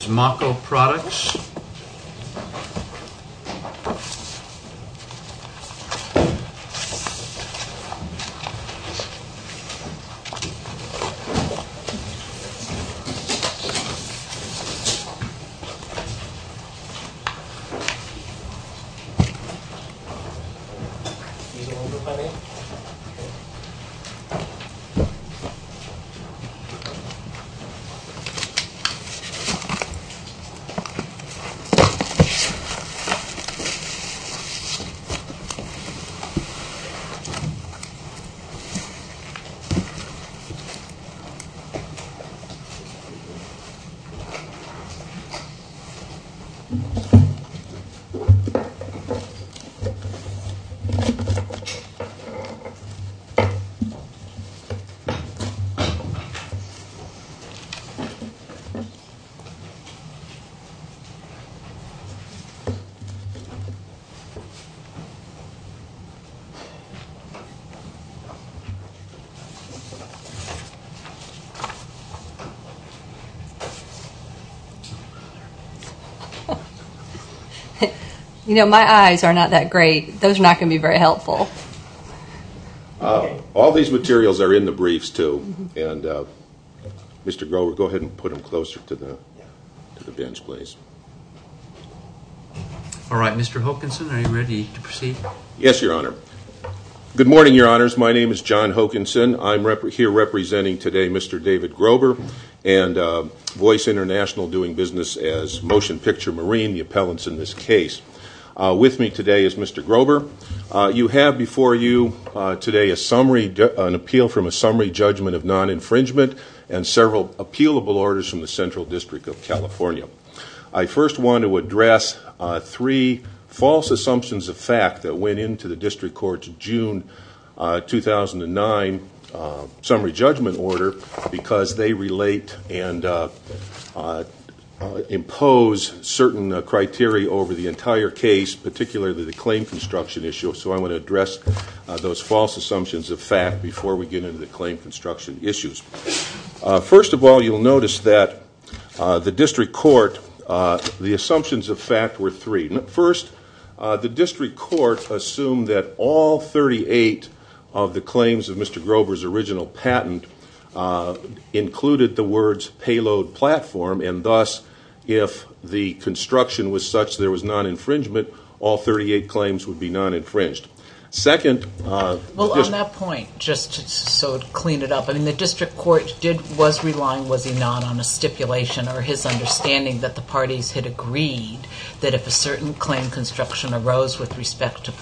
This is Mako Products. You know my eyes are not that great, those are not going to be very helpful. All these materials are in the briefs, too, and Mr. Grober, go ahead and put them closer to the bench, please. All right, Mr. Hokanson, are you ready to proceed? Yes, Your Honor. Good morning, Your Honors. My name is John Hokanson. I'm here representing today Mr. David Grober and Voice International doing business as Motion Picture Marine, the appellants in this case. With me today is Mr. Grober. You have before you today an appeal from a summary judgment of non-infringement and several appealable orders from the Central District of California. I first want to address three false assumptions of fact that went into the district court's June 2009 summary judgment order because they relate and impose certain criteria over the claim construction issue, so I want to address those false assumptions of fact before we get into the claim construction issues. First of all, you'll notice that the district court, the assumptions of fact were three. First, the district court assumed that all 38 of the claims of Mr. Grober's original patent included the words payload platform, and thus if the construction was such there was non-infringement, all 38 claims would be non-infringed. Second- Well, on that point, just so to clean it up, the district court was relying, was he not, on a stipulation or his understanding that the parties had agreed that if a certain claim construction arose with respect to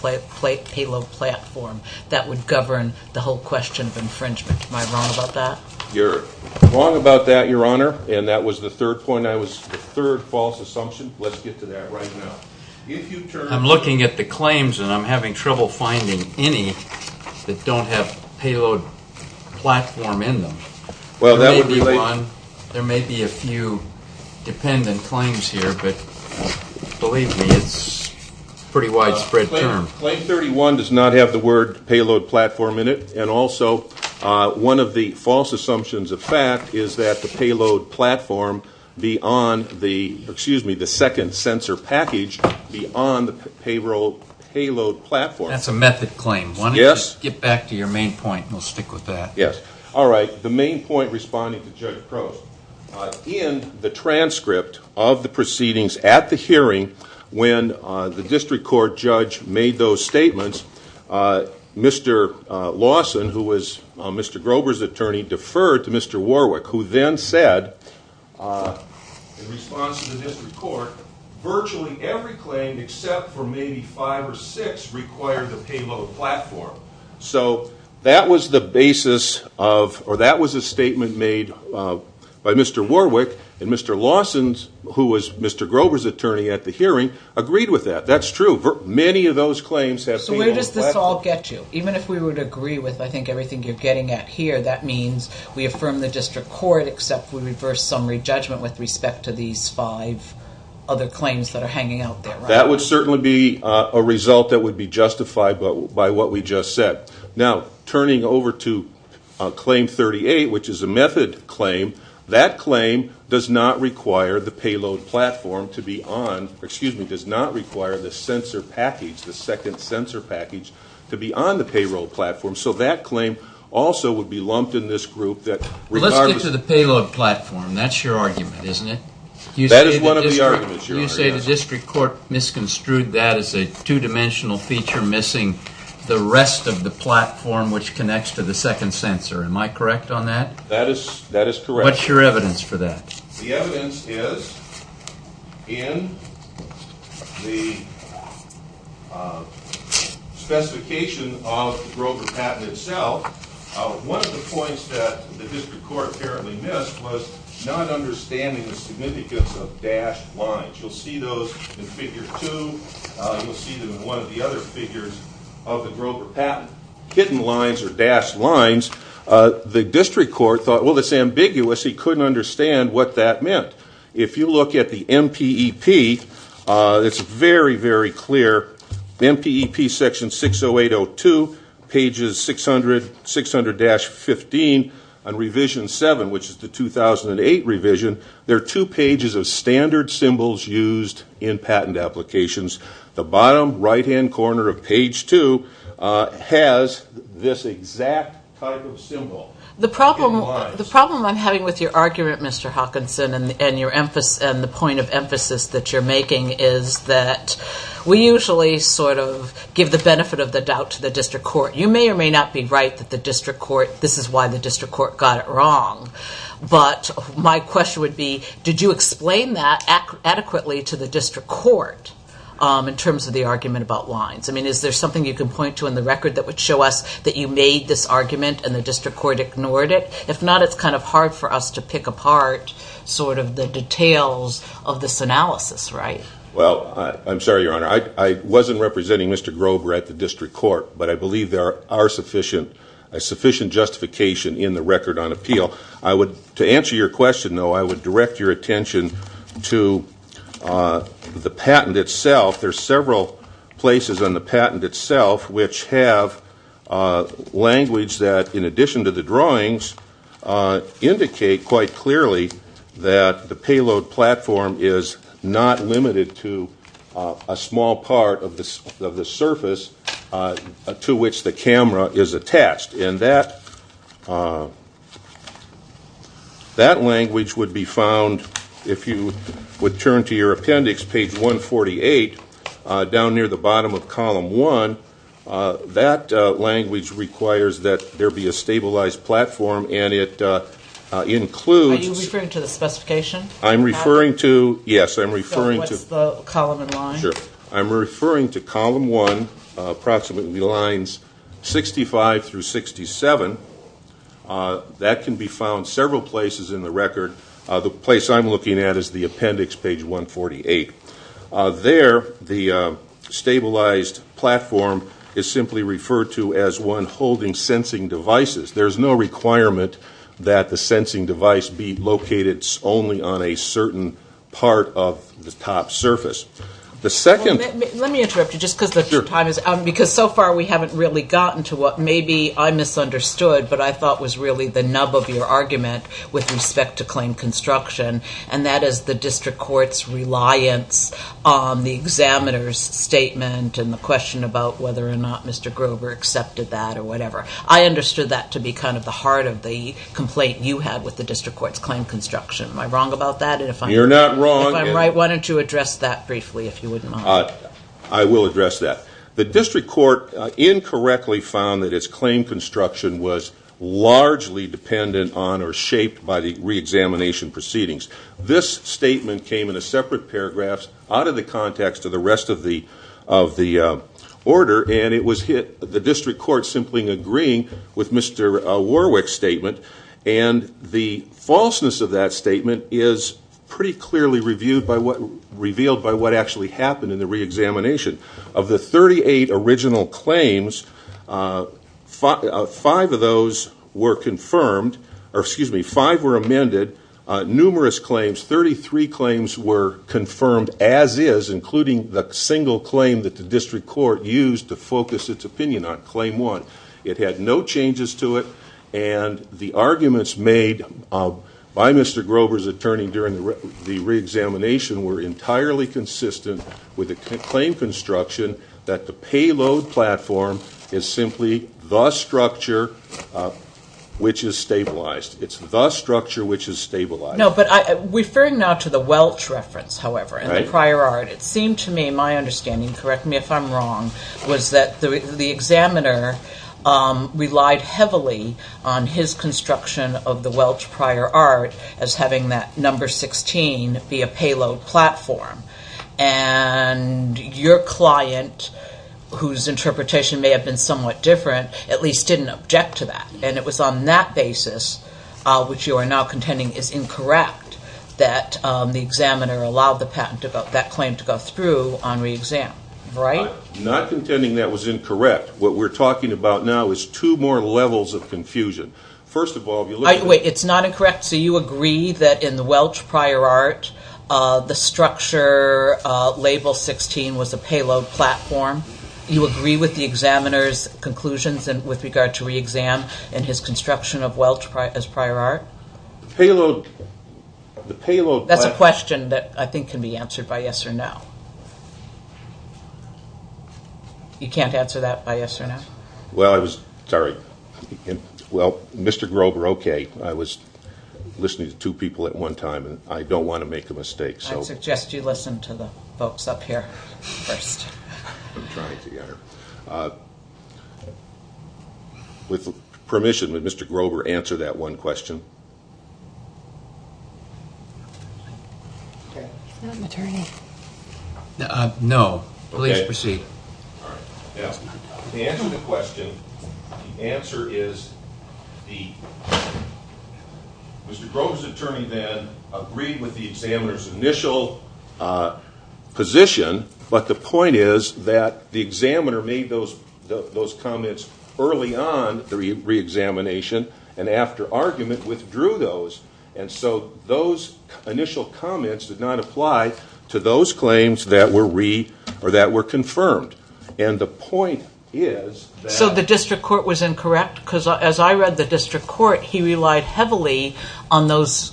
payload platform, that would govern the whole question of infringement. Am I wrong about that? You're wrong about that, Your Honor, and that was the third point. I was, the third false assumption, let's get to that right now. If you turn- I'm looking at the claims and I'm having trouble finding any that don't have payload platform in them. Well, that would be- There may be one, there may be a few dependent claims here, but believe me, it's a pretty widespread term. Claim 31 does not have the word payload platform in it, and also one of the false assumptions of fact is that the payload platform beyond the, excuse me, the second sensor package beyond the payload platform- That's a method claim. Yes. Why don't you just get back to your main point and we'll stick with that. Yes. All right. The main point responding to Judge Crowe, in the transcript of the proceedings at the hearing when the district court judge made those statements, Mr. Lawson, who was Mr. Grover's attorney, deferred to Mr. Warwick, who then said, in response to the district court, virtually every claim except for maybe five or six required the payload platform. That was the basis of, or that was a statement made by Mr. Warwick, and Mr. Lawson, who was Mr. Grover's attorney at the hearing, agreed with that. That's true. Many of those claims have payload platform- Where does this all get you? Even if we would agree with, I think, everything you're getting at here, that means we affirm the district court except we reverse summary judgment with respect to these five other claims that are hanging out there, right? That would certainly be a result that would be justified by what we just said. Now, turning over to claim 38, which is a method claim, that claim does not require the payload platform to be on, excuse me, does not require the sensor package, the second sensor package, to be on the payload platform, so that claim also would be lumped in this group that- Let's get to the payload platform. That's your argument, isn't it? That is one of the arguments, your argument. You say the district court misconstrued that as a two-dimensional feature missing the rest of the platform which connects to the second sensor. Am I correct on that? That is correct. What's your evidence for that? The evidence is in the specification of the Grover patent itself, one of the points that the district court apparently missed was not understanding the significance of dashed lines. You'll see those in figure two, you'll see them in one of the other figures of the Grover patent. Hidden lines or dashed lines, the district court thought, well, it's ambiguous, he couldn't understand what that meant. If you look at the MPEP, it's very, very clear, MPEP section 60802, pages 600-15 on revision 7, which is the 2008 revision, there are two pages of standard symbols used in patent applications. The bottom right-hand corner of page 2 has this exact type of symbol. The problem I'm having with your argument, Mr. Hawkinson, and the point of emphasis that you're making is that we usually sort of give the benefit of the doubt to the district court. You may or may not be right that this is why the district court got it wrong, but my question would be, did you explain that adequately to the district court in terms of the argument about lines? I mean, is there something you can point to in the record that would show us that you had ignored it? If not, it's kind of hard for us to pick apart sort of the details of this analysis, right? Well, I'm sorry, Your Honor, I wasn't representing Mr. Grover at the district court, but I believe there are sufficient justification in the record on appeal. To answer your question, though, I would direct your attention to the patent itself. There are several places on the patent itself which have language that, in addition to the drawings, indicate quite clearly that the payload platform is not limited to a small part of the surface to which the camera is attached. And that language would be found, if you would turn to your appendix, page 148, down near the bottom of column 1. That language requires that there be a stabilized platform, and it includes- Are you referring to the specification? I'm referring to- Yes, I'm referring to- So what's the column and line? Sure. I'm referring to column 1, approximately lines 65 through 67. That can be found several places in the record. The place I'm looking at is the appendix, page 148. There, the stabilized platform is simply referred to as one holding sensing devices. There's no requirement that the sensing device be located only on a certain part of the top surface. The second- Let me interrupt you, just because the time is- Sure. Because so far, we haven't really gotten to what maybe I misunderstood, but I thought was really the nub of your argument with respect to claim construction, and that is the district court's reliance on the examiner's statement and the question about whether or not Mr. Grover accepted that or whatever. I understood that to be kind of the heart of the complaint you had with the district court's claim construction. Am I wrong about that? And if I'm- You're not wrong. If I'm right, why don't you address that briefly, if you wouldn't mind? I will address that. The district court incorrectly found that its claim construction was largely dependent on or shaped by the reexamination proceedings. This statement came in a separate paragraph out of the context of the rest of the order, and it was hit, the district court simply agreeing with Mr. Warwick's statement, and the falseness of that statement is pretty clearly revealed by what actually happened in the reexamination. Of the 38 original claims, five of those were amended, numerous claims, 33 claims were confirmed as is, including the single claim that the district court used to focus its opinion on, claim one. It had no changes to it, and the arguments made by Mr. Grover's attorney during the reexamination were entirely consistent with the claim construction that the payload platform is simply the structure which is stabilized. It's the structure which is stabilized. No, but referring now to the Welch reference, however, and the prior art, it seemed to me, my understanding, correct me if I'm wrong, was that the examiner relied heavily on his construction of the Welch prior art as having that number 16 be a payload platform, and your client, whose interpretation may have been somewhat different, at least didn't object to that, and it was on that basis, which you are now contending is incorrect, that the Right? I'm not contending that was incorrect. What we're talking about now is two more levels of confusion. First of all, if you look at- Wait, it's not incorrect? So you agree that in the Welch prior art, the structure label 16 was a payload platform? You agree with the examiner's conclusions with regard to reexam and his construction of Welch as prior art? The payload- That's a question that I think can be answered by yes or no. You can't answer that by yes or no? Well, Mr. Grover, okay, I was listening to two people at one time, and I don't want to make a mistake. I suggest you listen to the folks up here first. I'm trying to get her. With permission, would Mr. Grover answer that one question? I'm not an attorney. No. Please proceed. Okay. All right. Now, to answer the question, the answer is D. Mr. Grover's attorney then agreed with the examiner's initial position, but the point is that the examiner made those comments early on the reexamination and after argument withdrew those. Those initial comments did not apply to those claims that were confirmed. The point is that- The district court was incorrect? As I read the district court, he relied heavily on those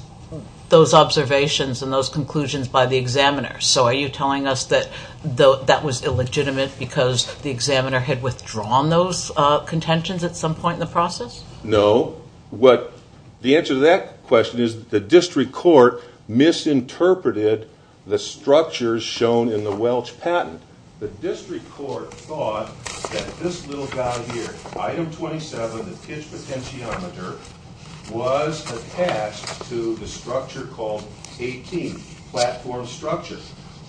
observations and those conclusions by the examiner. Are you telling us that that was illegitimate because the examiner had withdrawn those contentions at some point in the process? No. The answer to that question is the district court misinterpreted the structures shown in the Welch patent. The district court thought that this little guy here, item 27, the pitch potentiometer, was attached to the structure called 18, platform structure.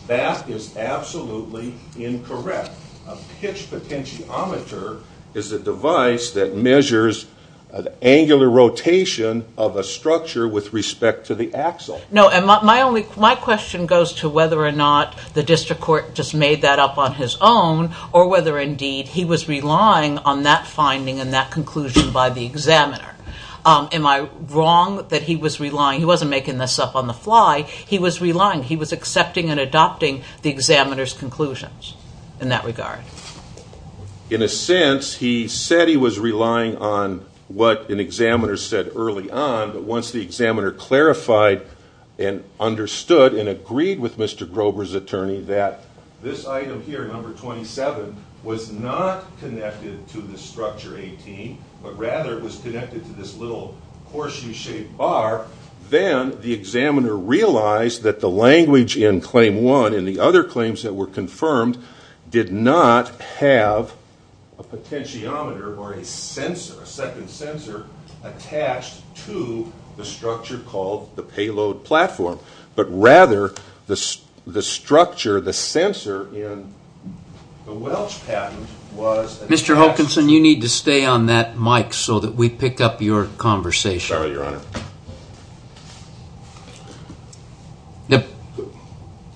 That is absolutely incorrect. A pitch potentiometer is a device that measures the angular rotation of a structure with respect to the axle. My question goes to whether or not the district court just made that up on his own or whether indeed he was relying on that finding and that conclusion by the examiner. Am I wrong that he was relying? He wasn't making this up on the fly. He was relying. He was accepting and adopting the examiner's conclusions in that regard. In a sense, he said he was relying on what an examiner said early on, but once the examiner clarified and understood and agreed with Mr. Grover's attorney that this item here, number 27, was not connected to the structure 18, but rather was connected to this little horseshoe-shaped bar, then the examiner realized that the language in claim one and the other claims that were confirmed did not have a potentiometer or a sensor, a second sensor, attached to the structure called the payload platform, but rather the structure, the sensor in the Welch patent was Mr. Hawkinson, you need to stay on that mic so that we pick up your conversation. Sorry, Your Honor.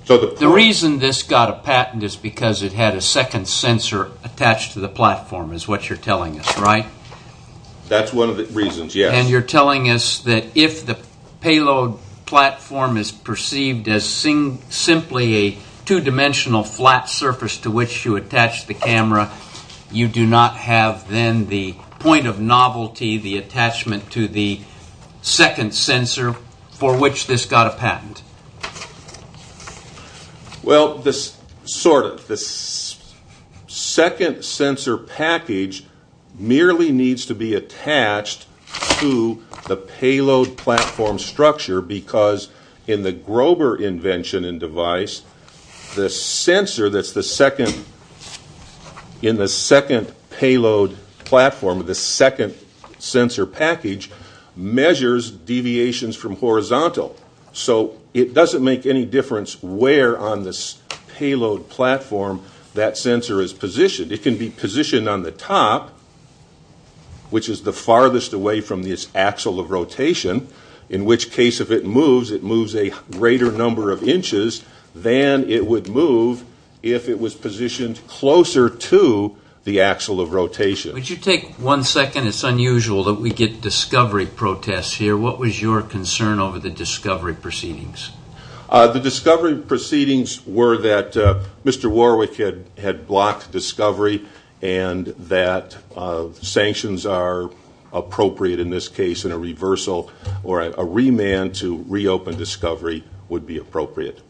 The reason this got a patent is because it had a second sensor attached to the platform is what you're telling us, right? That's one of the reasons, yes. And you're telling us that if the payload platform is perceived as simply a two-dimensional flat surface to which you attach the camera, you do not have then the point of novelty, the attachment to the second sensor for which this got a patent. Well, sort of. The second sensor package merely needs to be attached to the payload platform structure because in the Grover invention and device, the sensor that's in the second payload platform, the second sensor package, measures deviations from horizontal. So it doesn't make any difference where on this payload platform that sensor is positioned. It can be positioned on the top, which is the farthest away from this axle of rotation, in which case if it moves, it moves a greater number of inches than it would move if it was positioned closer to the axle of rotation. Would you take one second? It's unusual that we get discovery protests here. What was your concern over the discovery proceedings? The discovery proceedings were that Mr. Warwick had blocked discovery and that sanctions are appropriate in this case and a reversal or a remand to reopen discovery would be appropriate.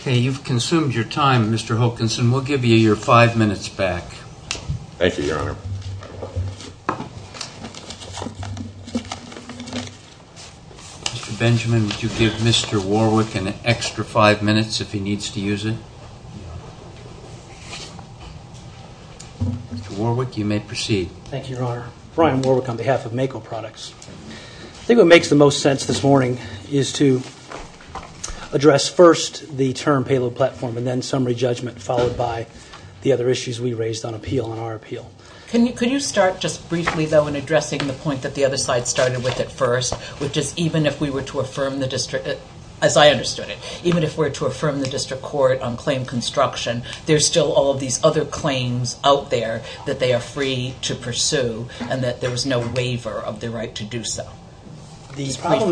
Okay. You've consumed your time, Mr. Hokanson. We'll give you your five minutes back. Thank you, Your Honor. Mr. Benjamin, would you give Mr. Warwick an extra five minutes if he needs to use it? Mr. Warwick, you may proceed. Thank you, Your Honor. Brian Warwick on behalf of Mako Products. I think what makes the most sense this morning is to address first the term payload platform and then summary judgment followed by the other issues we raised on appeal, on our appeal. Could you start just briefly, though, in addressing the point that the other side started with at first, which is even if we were to affirm the district, as I understood it, even if we were to affirm the district court on claim construction, there's still all of these other claims out there that they are free to pursue and that there was no waiver of their right to do so. The problem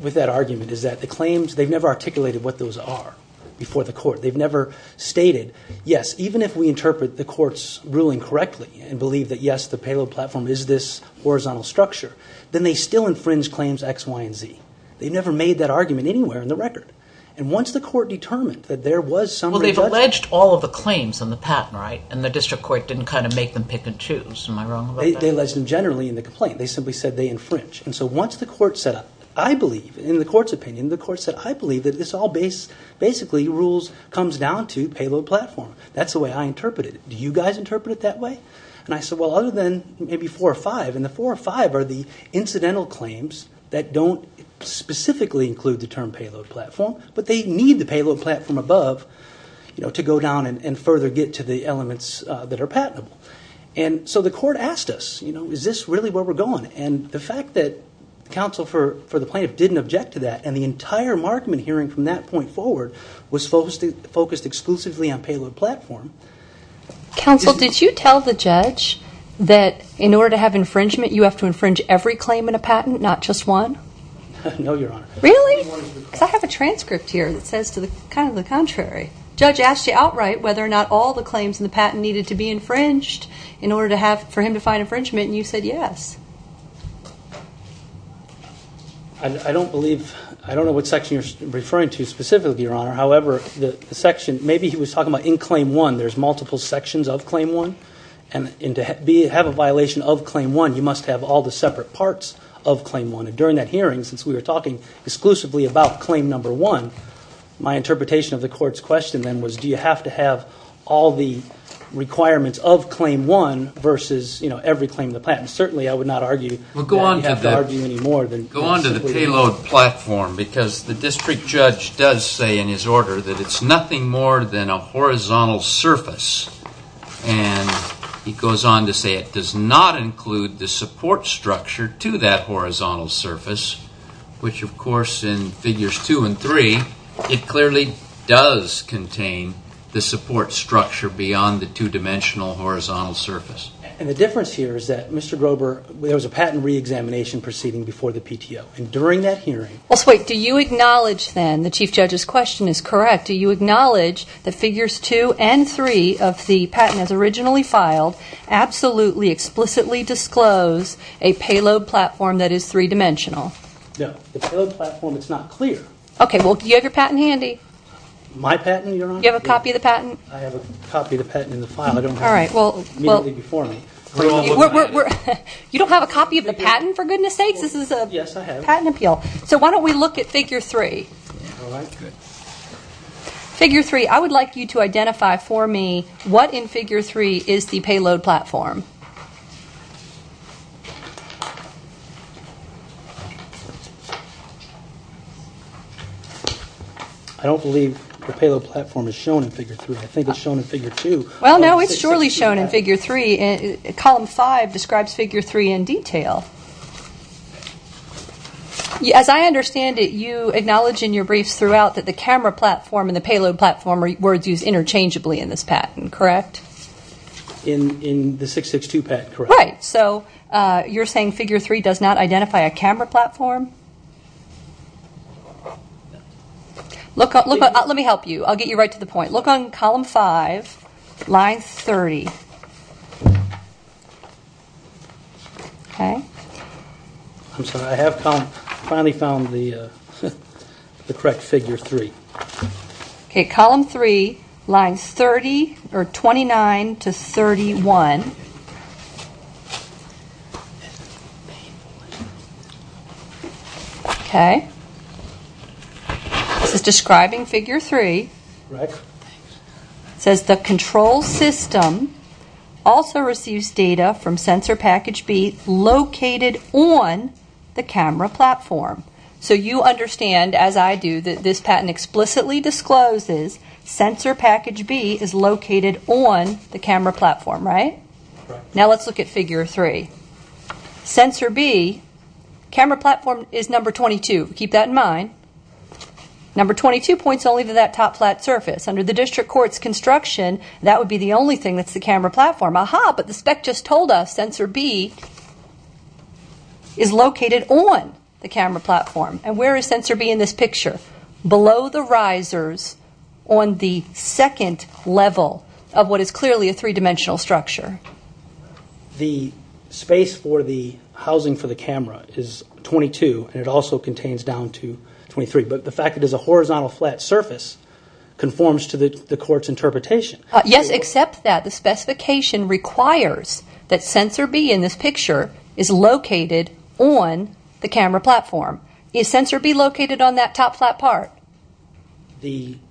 with that argument is that the claims, they've never articulated what those claims are before the court. They've never stated, yes, even if we interpret the court's ruling correctly and believe that, yes, the payload platform is this horizontal structure, then they still infringe claims X, Y, and Z. They've never made that argument anywhere in the record. And once the court determined that there was summary judgment... Well, they've alleged all of the claims on the patent, right, and the district court didn't kind of make them pick and choose. Am I wrong about that? They alleged them generally in the complaint. They simply said they infringe. And so once the court set up, I believe, in the court's opinion, the court said, I believe that this all basically comes down to payload platform. That's the way I interpret it. Do you guys interpret it that way? And I said, well, other than maybe four or five. And the four or five are the incidental claims that don't specifically include the term payload platform, but they need the payload platform above to go down and further get to the elements that are patentable. And so the court asked us, is this really where we're going? And the fact that counsel for the plaintiff didn't object to that and the entire markman hearing from that point forward was focused exclusively on payload platform. Counsel, did you tell the judge that in order to have infringement, you have to infringe every claim in a patent, not just one? No, Your Honor. Really? Because I have a transcript here that says kind of the contrary. Judge asked you outright whether or not all the claims in the patent needed to be infringed in order for him to find infringement, and you said yes. I don't believe, I don't know what section you're referring to specifically, Your Honor. However, the section, maybe he was talking about in claim one, there's multiple sections of claim one. And to have a violation of claim one, you must have all the separate parts of claim one. And during that hearing, since we were talking exclusively about claim number one, my interpretation of the court's question then was, do you have to have all the requirements of claim one versus, you know, every claim in the patent? Certainly, I would not argue that we have to argue any more than we do. Go on to the payload platform, because the district judge does say in his order that it's nothing more than a horizontal surface. And he goes on to say it does not include the support structure to that horizontal surface, which, of course, in figures two and three, it clearly does contain the support structure beyond the two-dimensional horizontal surface. And the difference here is that, Mr. Grober, there was a patent reexamination proceeding before the PTO. And during that hearing – Well, wait. Do you acknowledge then, the chief judge's question is correct, do you acknowledge that figures two and three of the patent as originally filed absolutely, explicitly disclose a payload platform that is three-dimensional? No. The payload platform is not clear. Okay. Well, do you have your patent handy? My patent, Your Honor? You have a copy of the patent? I have a copy of the patent in the file. I don't have it – You don't have a copy of the patent, for goodness sakes? This is a patent appeal. Yes, I have. So why don't we look at figure three? All right. Good. Figure three, I would like you to identify for me what in figure three is the payload platform. I don't believe the payload platform is shown in figure three. I think it's shown in figure two. Well, no, it's surely shown in figure three. Column five describes figure three in detail. As I understand it, you acknowledge in your briefs throughout that the camera platform and the payload platform are words used interchangeably in this patent, correct? In the 662 patent, correct. Right. So you're saying figure three does not identify a camera platform? Let me help you. I'll get you right to the point. Look on column five, line 30. I'm sorry. I have finally found the correct figure three. Column three, lines 29 to 31. This is describing figure three. Correct. It says the control system also receives data from sensor package B located on the camera platform. So you understand, as I do, that this patent explicitly discloses sensor package B is located on the camera platform, right? Correct. Now let's look at figure three. Sensor B, camera platform is number 22. Keep that in mind. Number 22 points only to that top flat surface. Under the district court's construction, that would be the only thing that's the camera platform. Aha, but the spec just told us sensor B is located on the camera platform. And where is sensor B in this picture? Below the risers on the second level of what is clearly a three-dimensional structure. The space for the housing for the camera is 22, and it also contains down to 23. But the fact that it is a horizontal flat surface conforms to the court's interpretation. Yes, except that the specification requires that sensor B in this picture is located on the camera platform. Is sensor B located on that top flat part?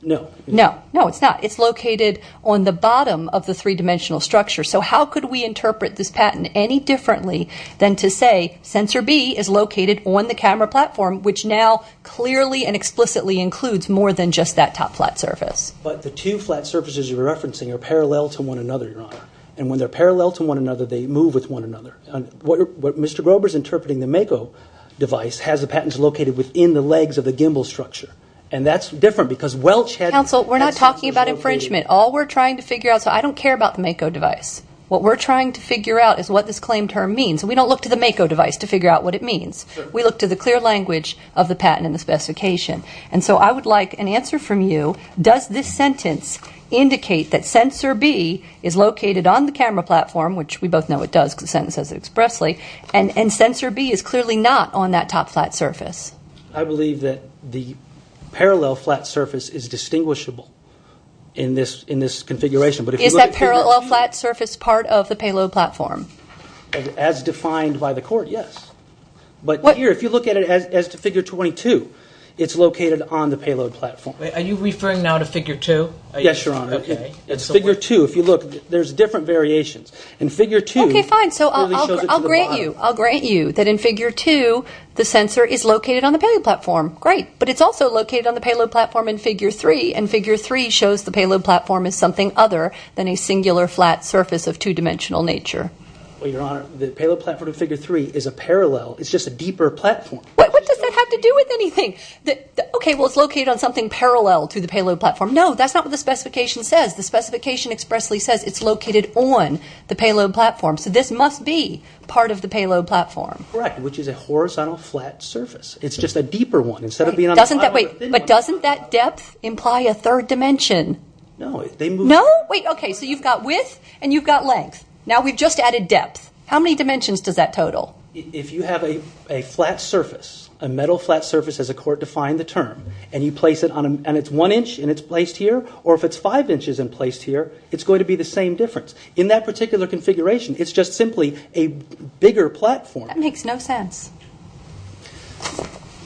No. No. No, it's not. It's located on the bottom of the three-dimensional structure. So how could we interpret this patent any differently than to say sensor B is located on the camera platform, which now clearly and explicitly includes more than just that top flat surface? But the two flat surfaces you're referencing are parallel to one another, Your Honor. And when they're parallel to one another, they move with one another. What Mr. Grover's interpreting, the Mako device has the patents located within the legs of the gimbal structure. And that's different because Welch had... Counsel, we're not talking about infringement. All we're trying to figure out... So I don't care about the Mako device. What we're trying to figure out is what this claim term means. And we don't look to the Mako device to figure out what it means. We look to the clear language of the patent and the specification. And so I would like an answer from you. Does this sentence indicate that sensor B is located on the camera platform, which we both know it does because the sentence says it expressly, and sensor B is clearly not on that top flat surface? I believe that the parallel flat surface is distinguishable in this configuration. Is that parallel flat surface part of the payload platform? As defined by the court, yes. But here, if you look at it as to figure 22, it's located on the payload platform. Are you referring now to figure 2? Yes, Your Honor. Okay. It's figure 2. If you look, there's different variations. In figure 2... Okay, fine. So I'll grant you. I'll grant you that in figure 2, the sensor is located on the payload platform. Great. But it's also located on the payload platform in figure 3. And figure 3 shows the payload platform as something other than a singular flat surface of two-dimensional nature. Well, Your Honor, the payload platform in figure 3 is a parallel. It's just a deeper platform. What does that have to do with anything? Okay, well, it's located on something parallel to the payload platform. No, that's not what the specification says. The specification expressly says it's located on the payload platform. So this must be part of the payload platform. Correct, which is a horizontal flat surface. It's just a deeper one instead of being on the top of a thin one. Wait, but doesn't that depth imply a third dimension? No, they move... No? Wait, okay, so you've got width and you've got length. Now we've just added depth. How many dimensions does that total? If you have a flat surface, a metal flat surface as the court defined the term, and you place it on a...and it's one inch and it's placed here, or if it's five inches and placed here, it's going to be the same difference. In that particular configuration, it's just simply a bigger platform. That makes no sense.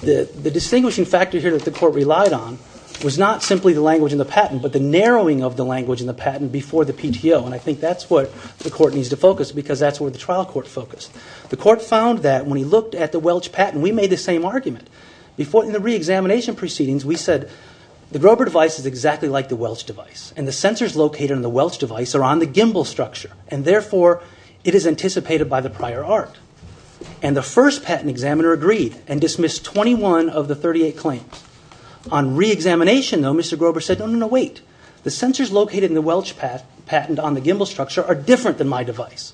The distinguishing factor here that the court relied on was not simply the language in the patent, but the narrowing of the language in the patent before the PTO, and I think that's what the court needs to focus because that's where the trial court focused. The court found that when he looked at the Welch patent, we made the same argument. In the reexamination proceedings, we said the Grover device is exactly like the Welch device, and the sensors located on the Welch device are on the gimbal structure, and therefore it is anticipated by the prior art. And the first patent examiner agreed and dismissed 21 of the 38 claims. On reexamination, though, Mr. Grover said, no, no, no, wait, the sensors located in the Welch patent on the gimbal structure are different than my device,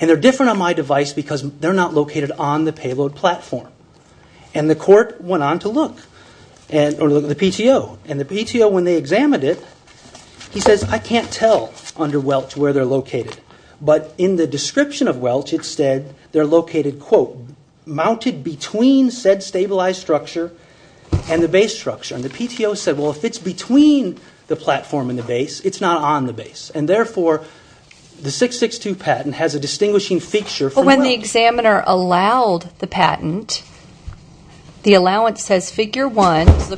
and they're different on my device because they're not located on the payload platform. And the court went on to look at the PTO, and the PTO, when they examined it, he says, I can't tell under Welch where they're located, but in the description of Welch, it said they're located, quote, and the base structure. And the PTO said, well, if it's between the platform and the base, it's not on the base. And therefore, the 662 patent has a distinguishing fixture from Welch. But when the examiner allowed the patent, the allowance says figure 1, this is a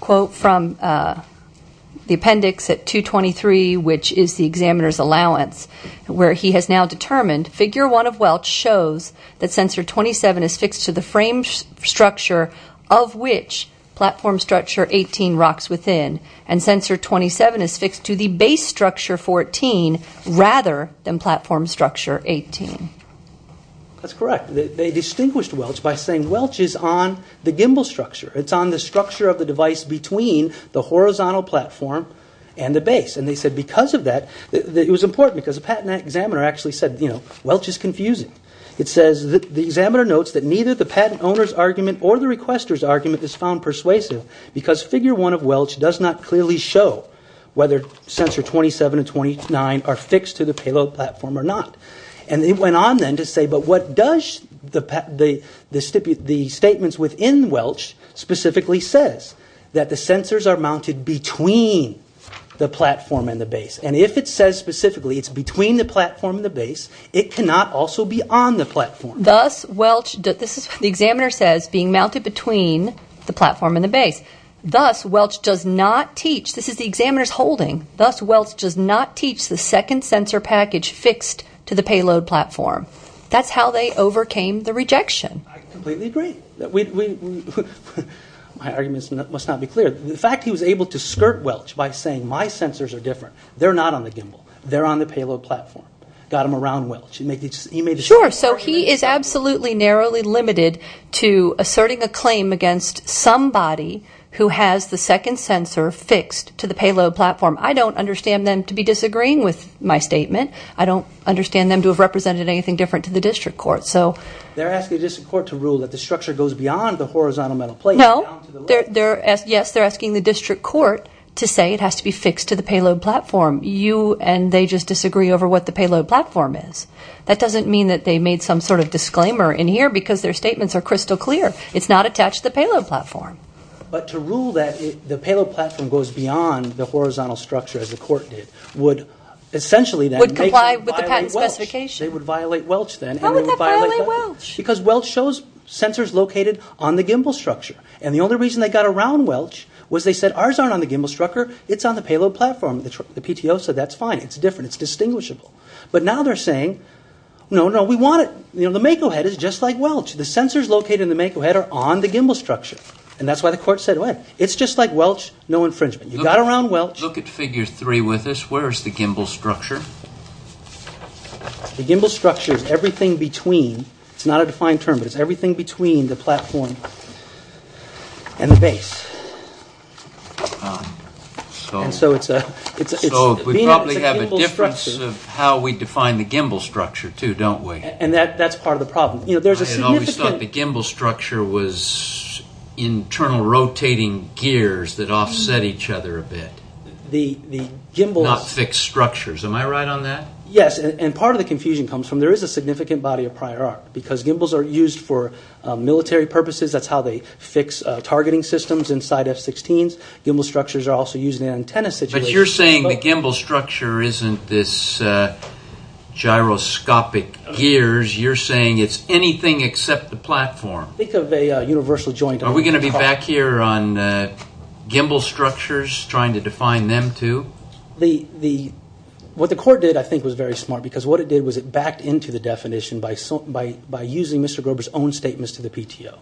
quote from the appendix at 223, which is the examiner's allowance, where he has now determined figure 1 of Welch shows that sensor 27 is fixed to the frame structure of which platform structure 18 rocks within, and sensor 27 is fixed to the base structure 14 rather than platform structure 18. That's correct. They distinguished Welch by saying Welch is on the gimbal structure. It's on the structure of the device between the horizontal platform and the base. And they said because of that, it was important, because the patent examiner actually said, you know, the examiner notes that neither the patent owner's argument or the requester's argument is found persuasive because figure 1 of Welch does not clearly show whether sensor 27 and 29 are fixed to the payload platform or not. And they went on then to say, but what does the statements within Welch specifically says? That the sensors are mounted between the platform and the base. And if it says specifically it's between the platform and the base, it cannot also be on the platform. Thus, Welch... The examiner says being mounted between the platform and the base. Thus, Welch does not teach... This is the examiner's holding. Thus, Welch does not teach the second sensor package fixed to the payload platform. That's how they overcame the rejection. I completely agree. My argument must not be clear. The fact he was able to skirt Welch by saying my sensors are different, they're not on the gimbal, they're on the payload platform, got them around Welch. Sure, so he is absolutely narrowly limited to asserting a claim against somebody who has the second sensor fixed to the payload platform. I don't understand them to be disagreeing with my statement. I don't understand them to have represented anything different to the district court. They're asking the district court to rule that the structure goes beyond the horizontal metal plate... No, yes, they're asking the district court to say it has to be fixed to the payload platform. You and they just disagree over what the payload platform is. That doesn't mean that they made some sort of disclaimer in here because their statements are crystal clear. It's not attached to the payload platform. But to rule that the payload platform goes beyond the horizontal structure, as the court did, would essentially then make them violate Welch. Would comply with the patent specification. They would violate Welch then. How would that violate Welch? Because Welch shows sensors located on the gimbal structure. And the only reason they got around Welch was they said ours aren't on the gimbal structure, it's on the payload platform. The PTO said that's fine, it's different, it's distinguishable. But now they're saying, no, no, we want it... The Mako head is just like Welch. The sensors located in the Mako head are on the gimbal structure. And that's why the court said, it's just like Welch, no infringement. You got around Welch... Look at figure three with us. Where is the gimbal structure? The gimbal structure is everything between... It's not a defined term, but it's everything between the platform and the base. So we probably have a difference of how we define the gimbal structure too, don't we? And that's part of the problem. I always thought the gimbal structure was internal rotating gears that offset each other a bit. Not fixed structures. Am I right on that? Yes, and part of the confusion comes from there is a significant body of prior art. Because gimbals are used for military purposes. That's how they fix targeting systems inside F-16s. Gimbal structures are also used in antenna situations. But you're saying the gimbal structure isn't this gyroscopic gears. You're saying it's anything except the platform. Think of a universal joint... Are we going to be back here on gimbal structures, trying to define them too? What the court did, I think, was very smart. Because what it did was it backed into the definition by using Mr. Grober's own statements to the PTO.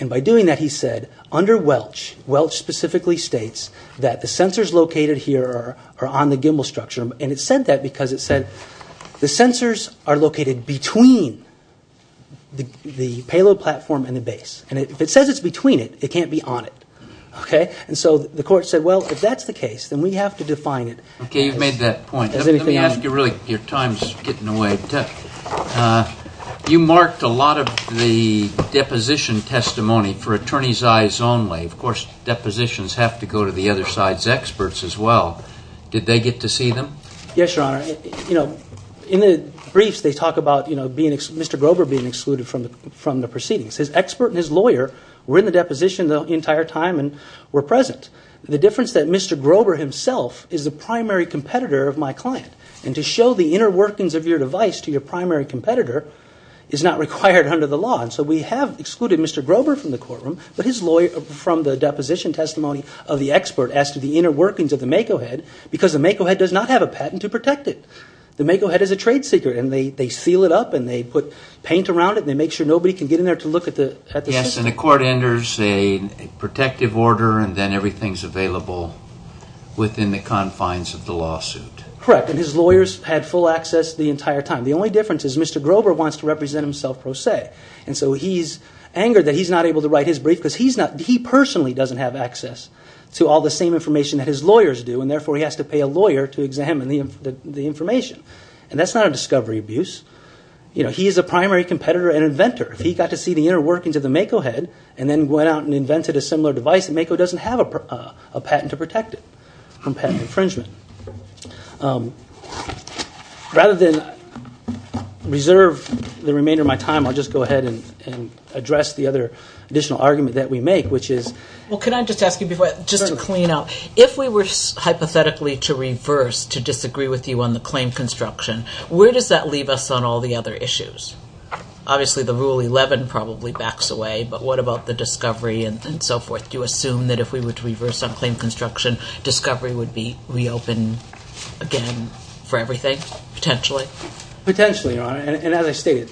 And by doing that, he said, under Welch, Welch specifically states that the sensors located here are on the gimbal structure. And it said that because it said the sensors are located between the payload platform and the base. And if it says it's between it, it can't be on it. And so the court said, well, if that's the case, then we have to define it. Okay, you've made that point. Let me ask you really, your time's getting away. You marked a lot of the deposition testimony for attorneys' eyes only. Of course, depositions have to go to the other side's experts as well. Did they get to see them? Yes, Your Honor. In the briefs, they talk about Mr. Grober being excluded from the proceedings. His expert and his lawyer were in the deposition the entire time and were present. The difference is that Mr. Grober himself is the primary competitor of my client. And to show the inner workings of your device to your primary competitor is not required under the law. And so we have excluded Mr. Grober from the courtroom, but his lawyer from the deposition testimony of the expert as to the inner workings of the Mako Head, because the Mako Head does not have a patent to protect it. The Mako Head is a trade secret. And they seal it up and they put paint around it and they make sure nobody can get in there to look at the system. Yes, and the court enters a protective order and then everything's available within the confines of the lawsuit. Correct, and his lawyers had full access the entire time. The only difference is Mr. Grober wants to represent himself pro se. And so he's angered that he's not able to write his brief because he personally doesn't have access to all the same information that his lawyers do, and therefore he has to pay a lawyer to examine the information. And that's not a discovery abuse. He is a primary competitor and inventor. If he got to see the inner workings of the Mako Head and then went out and invented a similar device, the Mako doesn't have a patent to protect it from patent infringement. Rather than reserve the remainder of my time, I'll just go ahead and address the other additional argument that we make, which is— Well, can I just ask you before, just to clean up, if we were hypothetically to reverse, to disagree with you on the claim construction, where does that leave us on all the other issues? Obviously the Rule 11 probably backs away, but what about the discovery and so forth? Do you assume that if we were to reverse on claim construction, discovery would be reopened again for everything, potentially? Potentially, Your Honor. And as I stated,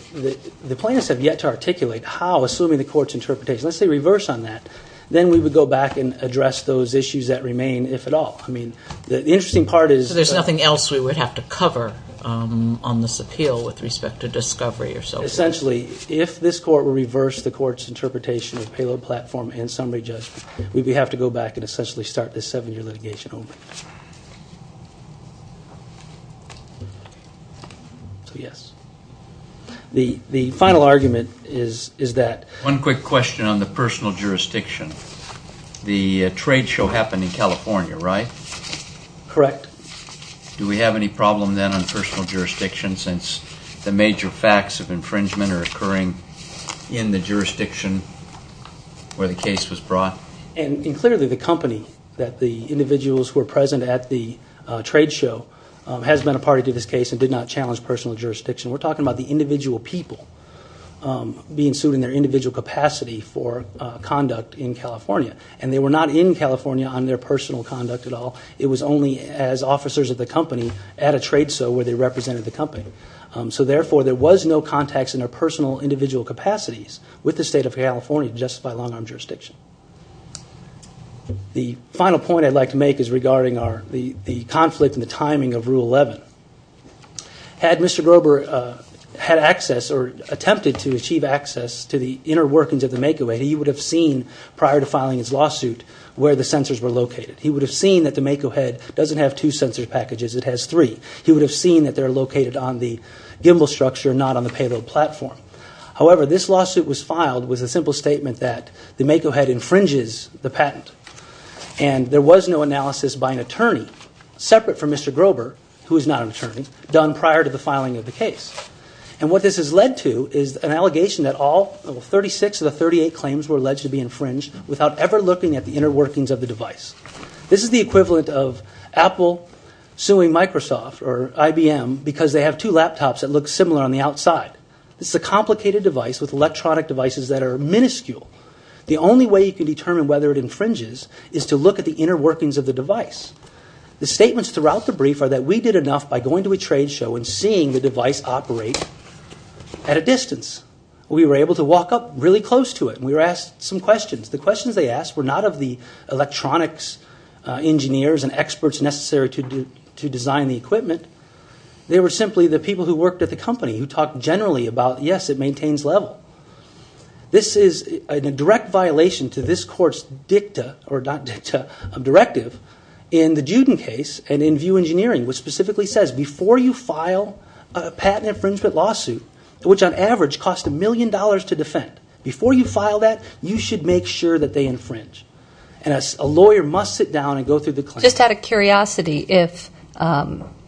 the plaintiffs have yet to articulate how, assuming the court's interpretation. Let's say reverse on that. Then we would go back and address those issues that remain, if at all. I mean, the interesting part is— So there's nothing else we would have to cover on this appeal with respect to discovery or so forth? Essentially, if this court were to reverse the court's interpretation of payload platform and summary judgment, we would have to go back and essentially start this seven-year litigation over. So, yes. The final argument is that— One quick question on the personal jurisdiction. The trade show happened in California, right? Correct. Do we have any problem then on personal jurisdiction, since the major facts of infringement are occurring in the jurisdiction where the case was brought? And clearly the company that the individuals were present at the trade show has been a party to this case and did not challenge personal jurisdiction. We're talking about the individual people being sued in their individual capacity for conduct in California. And they were not in California on their personal conduct at all. It was only as officers of the company at a trade show where they represented the company. So, therefore, there was no context in their personal individual capacities with the state of California to justify long-arm jurisdiction. The final point I'd like to make is regarding the conflict and the timing of Rule 11. Had Mr. Grober had access or attempted to achieve access to the inner workings of the make-away, he would have seen, prior to filing his lawsuit, where the sensors were located. He would have seen that the make-ahead doesn't have two sensor packages, it has three. He would have seen that they're located on the gimbal structure, not on the payload platform. However, this lawsuit was filed with a simple statement that the make-ahead infringes the patent. And there was no analysis by an attorney, separate from Mr. Grober, who is not an attorney, done prior to the filing of the case. And what this has led to is an allegation that all 36 of the 38 claims were alleged to be infringed without ever looking at the inner workings of the device. This is the equivalent of Apple suing Microsoft or IBM because they have two laptops that look similar on the outside. It's a complicated device with electronic devices that are minuscule. The only way you can determine whether it infringes is to look at the inner workings of the device. The statements throughout the brief are that we did enough by going to a trade show and seeing the device operate at a distance. We were able to walk up really close to it and we were asked some questions. The questions they asked were not of the electronics engineers and experts necessary to design the equipment. They were simply the people who worked at the company who talked generally about, yes, it maintains level. This is a direct violation to this court's dicta, or not dicta, directive in the Juden case and in VIEW Engineering, which specifically says before you file a patent infringement lawsuit, which on average costs a million dollars to defend, before you file that, you should make sure that they infringe. A lawyer must sit down and go through the claim. Just out of curiosity, if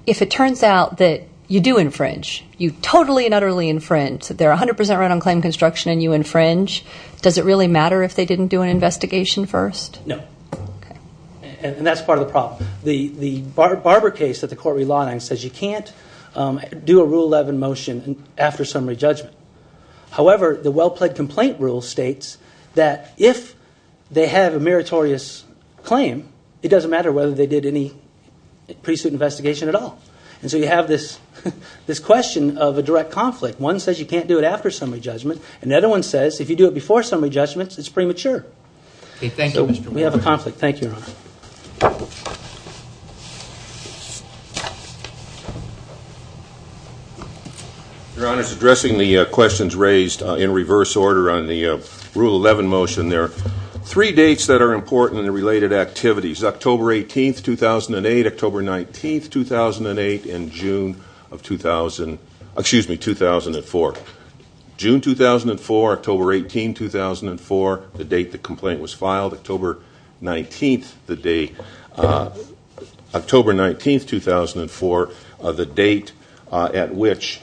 it turns out that you do infringe, you totally and utterly infringe, they're 100% right on claim construction and you infringe, does it really matter if they didn't do an investigation first? No. And that's part of the problem. The Barber case that the court relied on says you can't do a Rule 11 motion after summary judgment. However, the well-plaid complaint rule states that if they have a meritorious claim, it doesn't matter whether they did any pre-suit investigation at all. And so you have this question of a direct conflict. One says you can't do it after summary judgment, and the other one says if you do it before summary judgment, it's premature. So we have a conflict. Thank you, Your Honor. Your Honor, addressing the questions raised in reverse order on the Rule 11 motion, there are three dates that are important in the related activities, October 18, 2008, October 19, 2008, and June 2004. June 2004, October 18, 2004, the date the complaint was filed, October 19, 2004, the date at which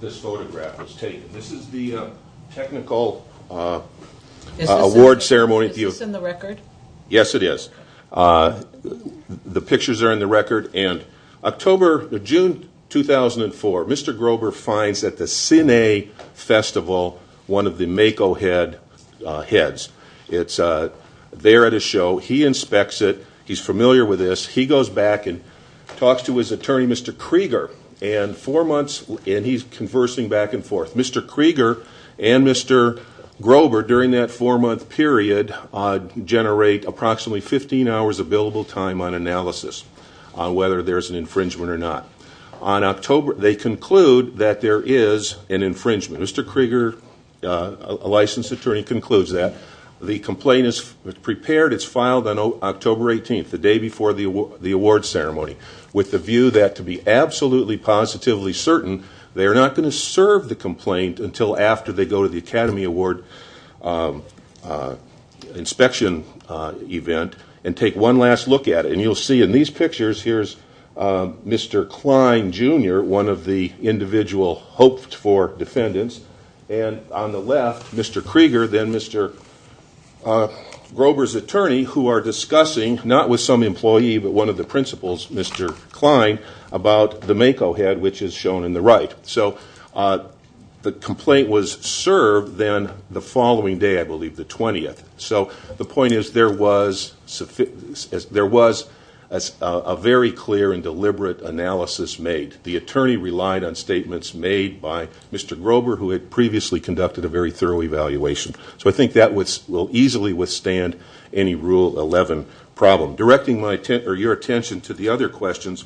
this photograph was taken. This is the technical award ceremony. Is this in the record? Yes, it is. The pictures are in the record. June 2004, Mr. Grober finds at the Cine Festival one of the Mako heads. It's there at his show. He inspects it. He's familiar with this. He goes back and talks to his attorney, Mr. Krieger, and four months, and he's conversing back and forth. Mr. Krieger and Mr. Grober, during that four-month period, generate approximately 15 hours of billable time on analysis on whether there's an infringement or not. They conclude that there is an infringement. Mr. Krieger, a licensed attorney, concludes that. The complaint is prepared. It's filed on October 18th, the day before the award ceremony, with the view that, to be absolutely positively certain, they are not going to serve the complaint until after they go to the Academy Award inspection event and take one last look at it. You'll see in these pictures, here's Mr. Klein, Jr., one of the individual hoped-for defendants, and on the left, Mr. Krieger, then Mr. Grober's attorney, who are discussing, not with some employee but one of the principals, Mr. Klein, about the Mako head, which is shown in the right. So the complaint was served then the following day, I believe, the 20th. So the point is there was a very clear and deliberate analysis made. The attorney relied on statements made by Mr. Grober, who had previously conducted a very thorough evaluation. So I think that will easily withstand any Rule 11 problem. Directing your attention to the other questions,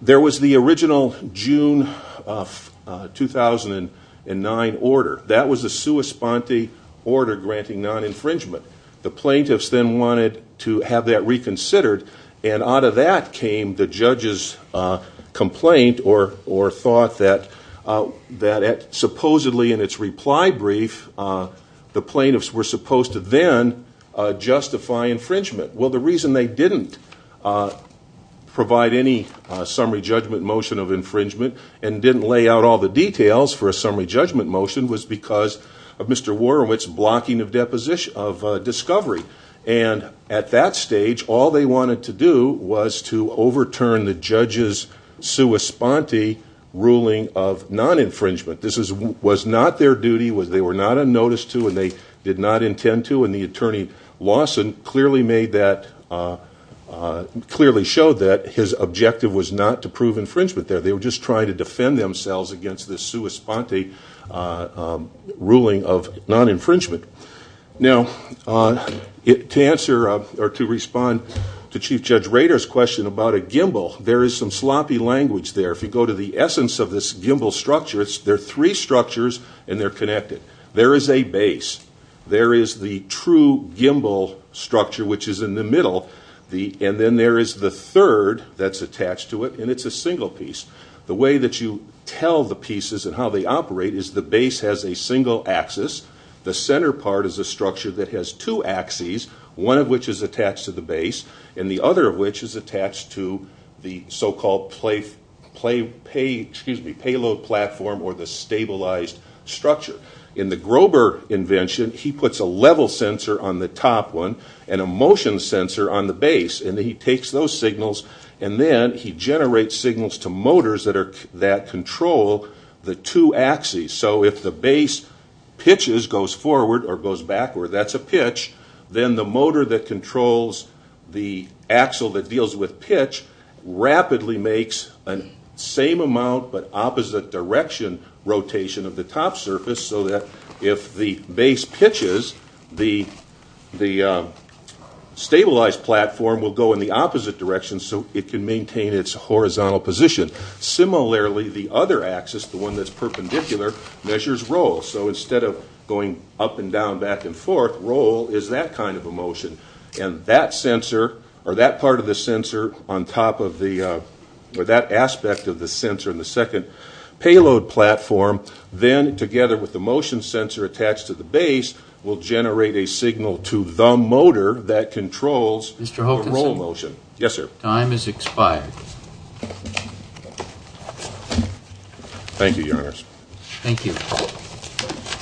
there was the original June of 2009 order. That was a sua sponte order granting non-infringement. The plaintiffs then wanted to have that reconsidered, and out of that came the judge's complaint or thought that supposedly in its reply brief the plaintiffs were supposed to then justify infringement. Well, the reason they didn't provide any summary judgment motion of infringement and didn't lay out all the details for a summary judgment motion was because of Mr. Worumitz's blocking of discovery. And at that stage, all they wanted to do was to overturn the judge's sua sponte ruling of non-infringement. This was not their duty, they were not on notice to, and they did not intend to, and the attorney Lawson clearly showed that his objective was not to prove infringement there. They were just trying to defend themselves against this sua sponte ruling of non-infringement. Now, to respond to Chief Judge Rader's question about a gimbal, there is some sloppy language there. If you go to the essence of this gimbal structure, there are three structures and they're connected. There is a base, there is the true gimbal structure, which is in the middle, and then there is the third that's attached to it, and it's a single piece. The way that you tell the pieces and how they operate is the base has a single axis, the center part is a structure that has two axes, one of which is attached to the base, and the other of which is attached to the so-called payload platform or the stabilized structure. In the Grover invention, he puts a level sensor on the top one and a motion sensor on the base, and he takes those signals and then he generates signals to motors that control the two axes. So if the base pitches, goes forward or goes backward, that's a pitch, then the motor that controls the axle that deals with pitch rapidly makes the same amount but opposite direction rotation of the top surface so that if the base pitches, the stabilized platform will go in the opposite direction so it can maintain its horizontal position. Similarly, the other axis, the one that's perpendicular, measures roll. So instead of going up and down, back and forth, roll is that kind of a motion. And that part of the sensor on top of the, or that aspect of the sensor in the second payload platform, then together with the motion sensor attached to the base, will generate a signal to the motor that controls the roll motion. Yes, sir. Time has expired. Thank you, Your Honors. Thank you.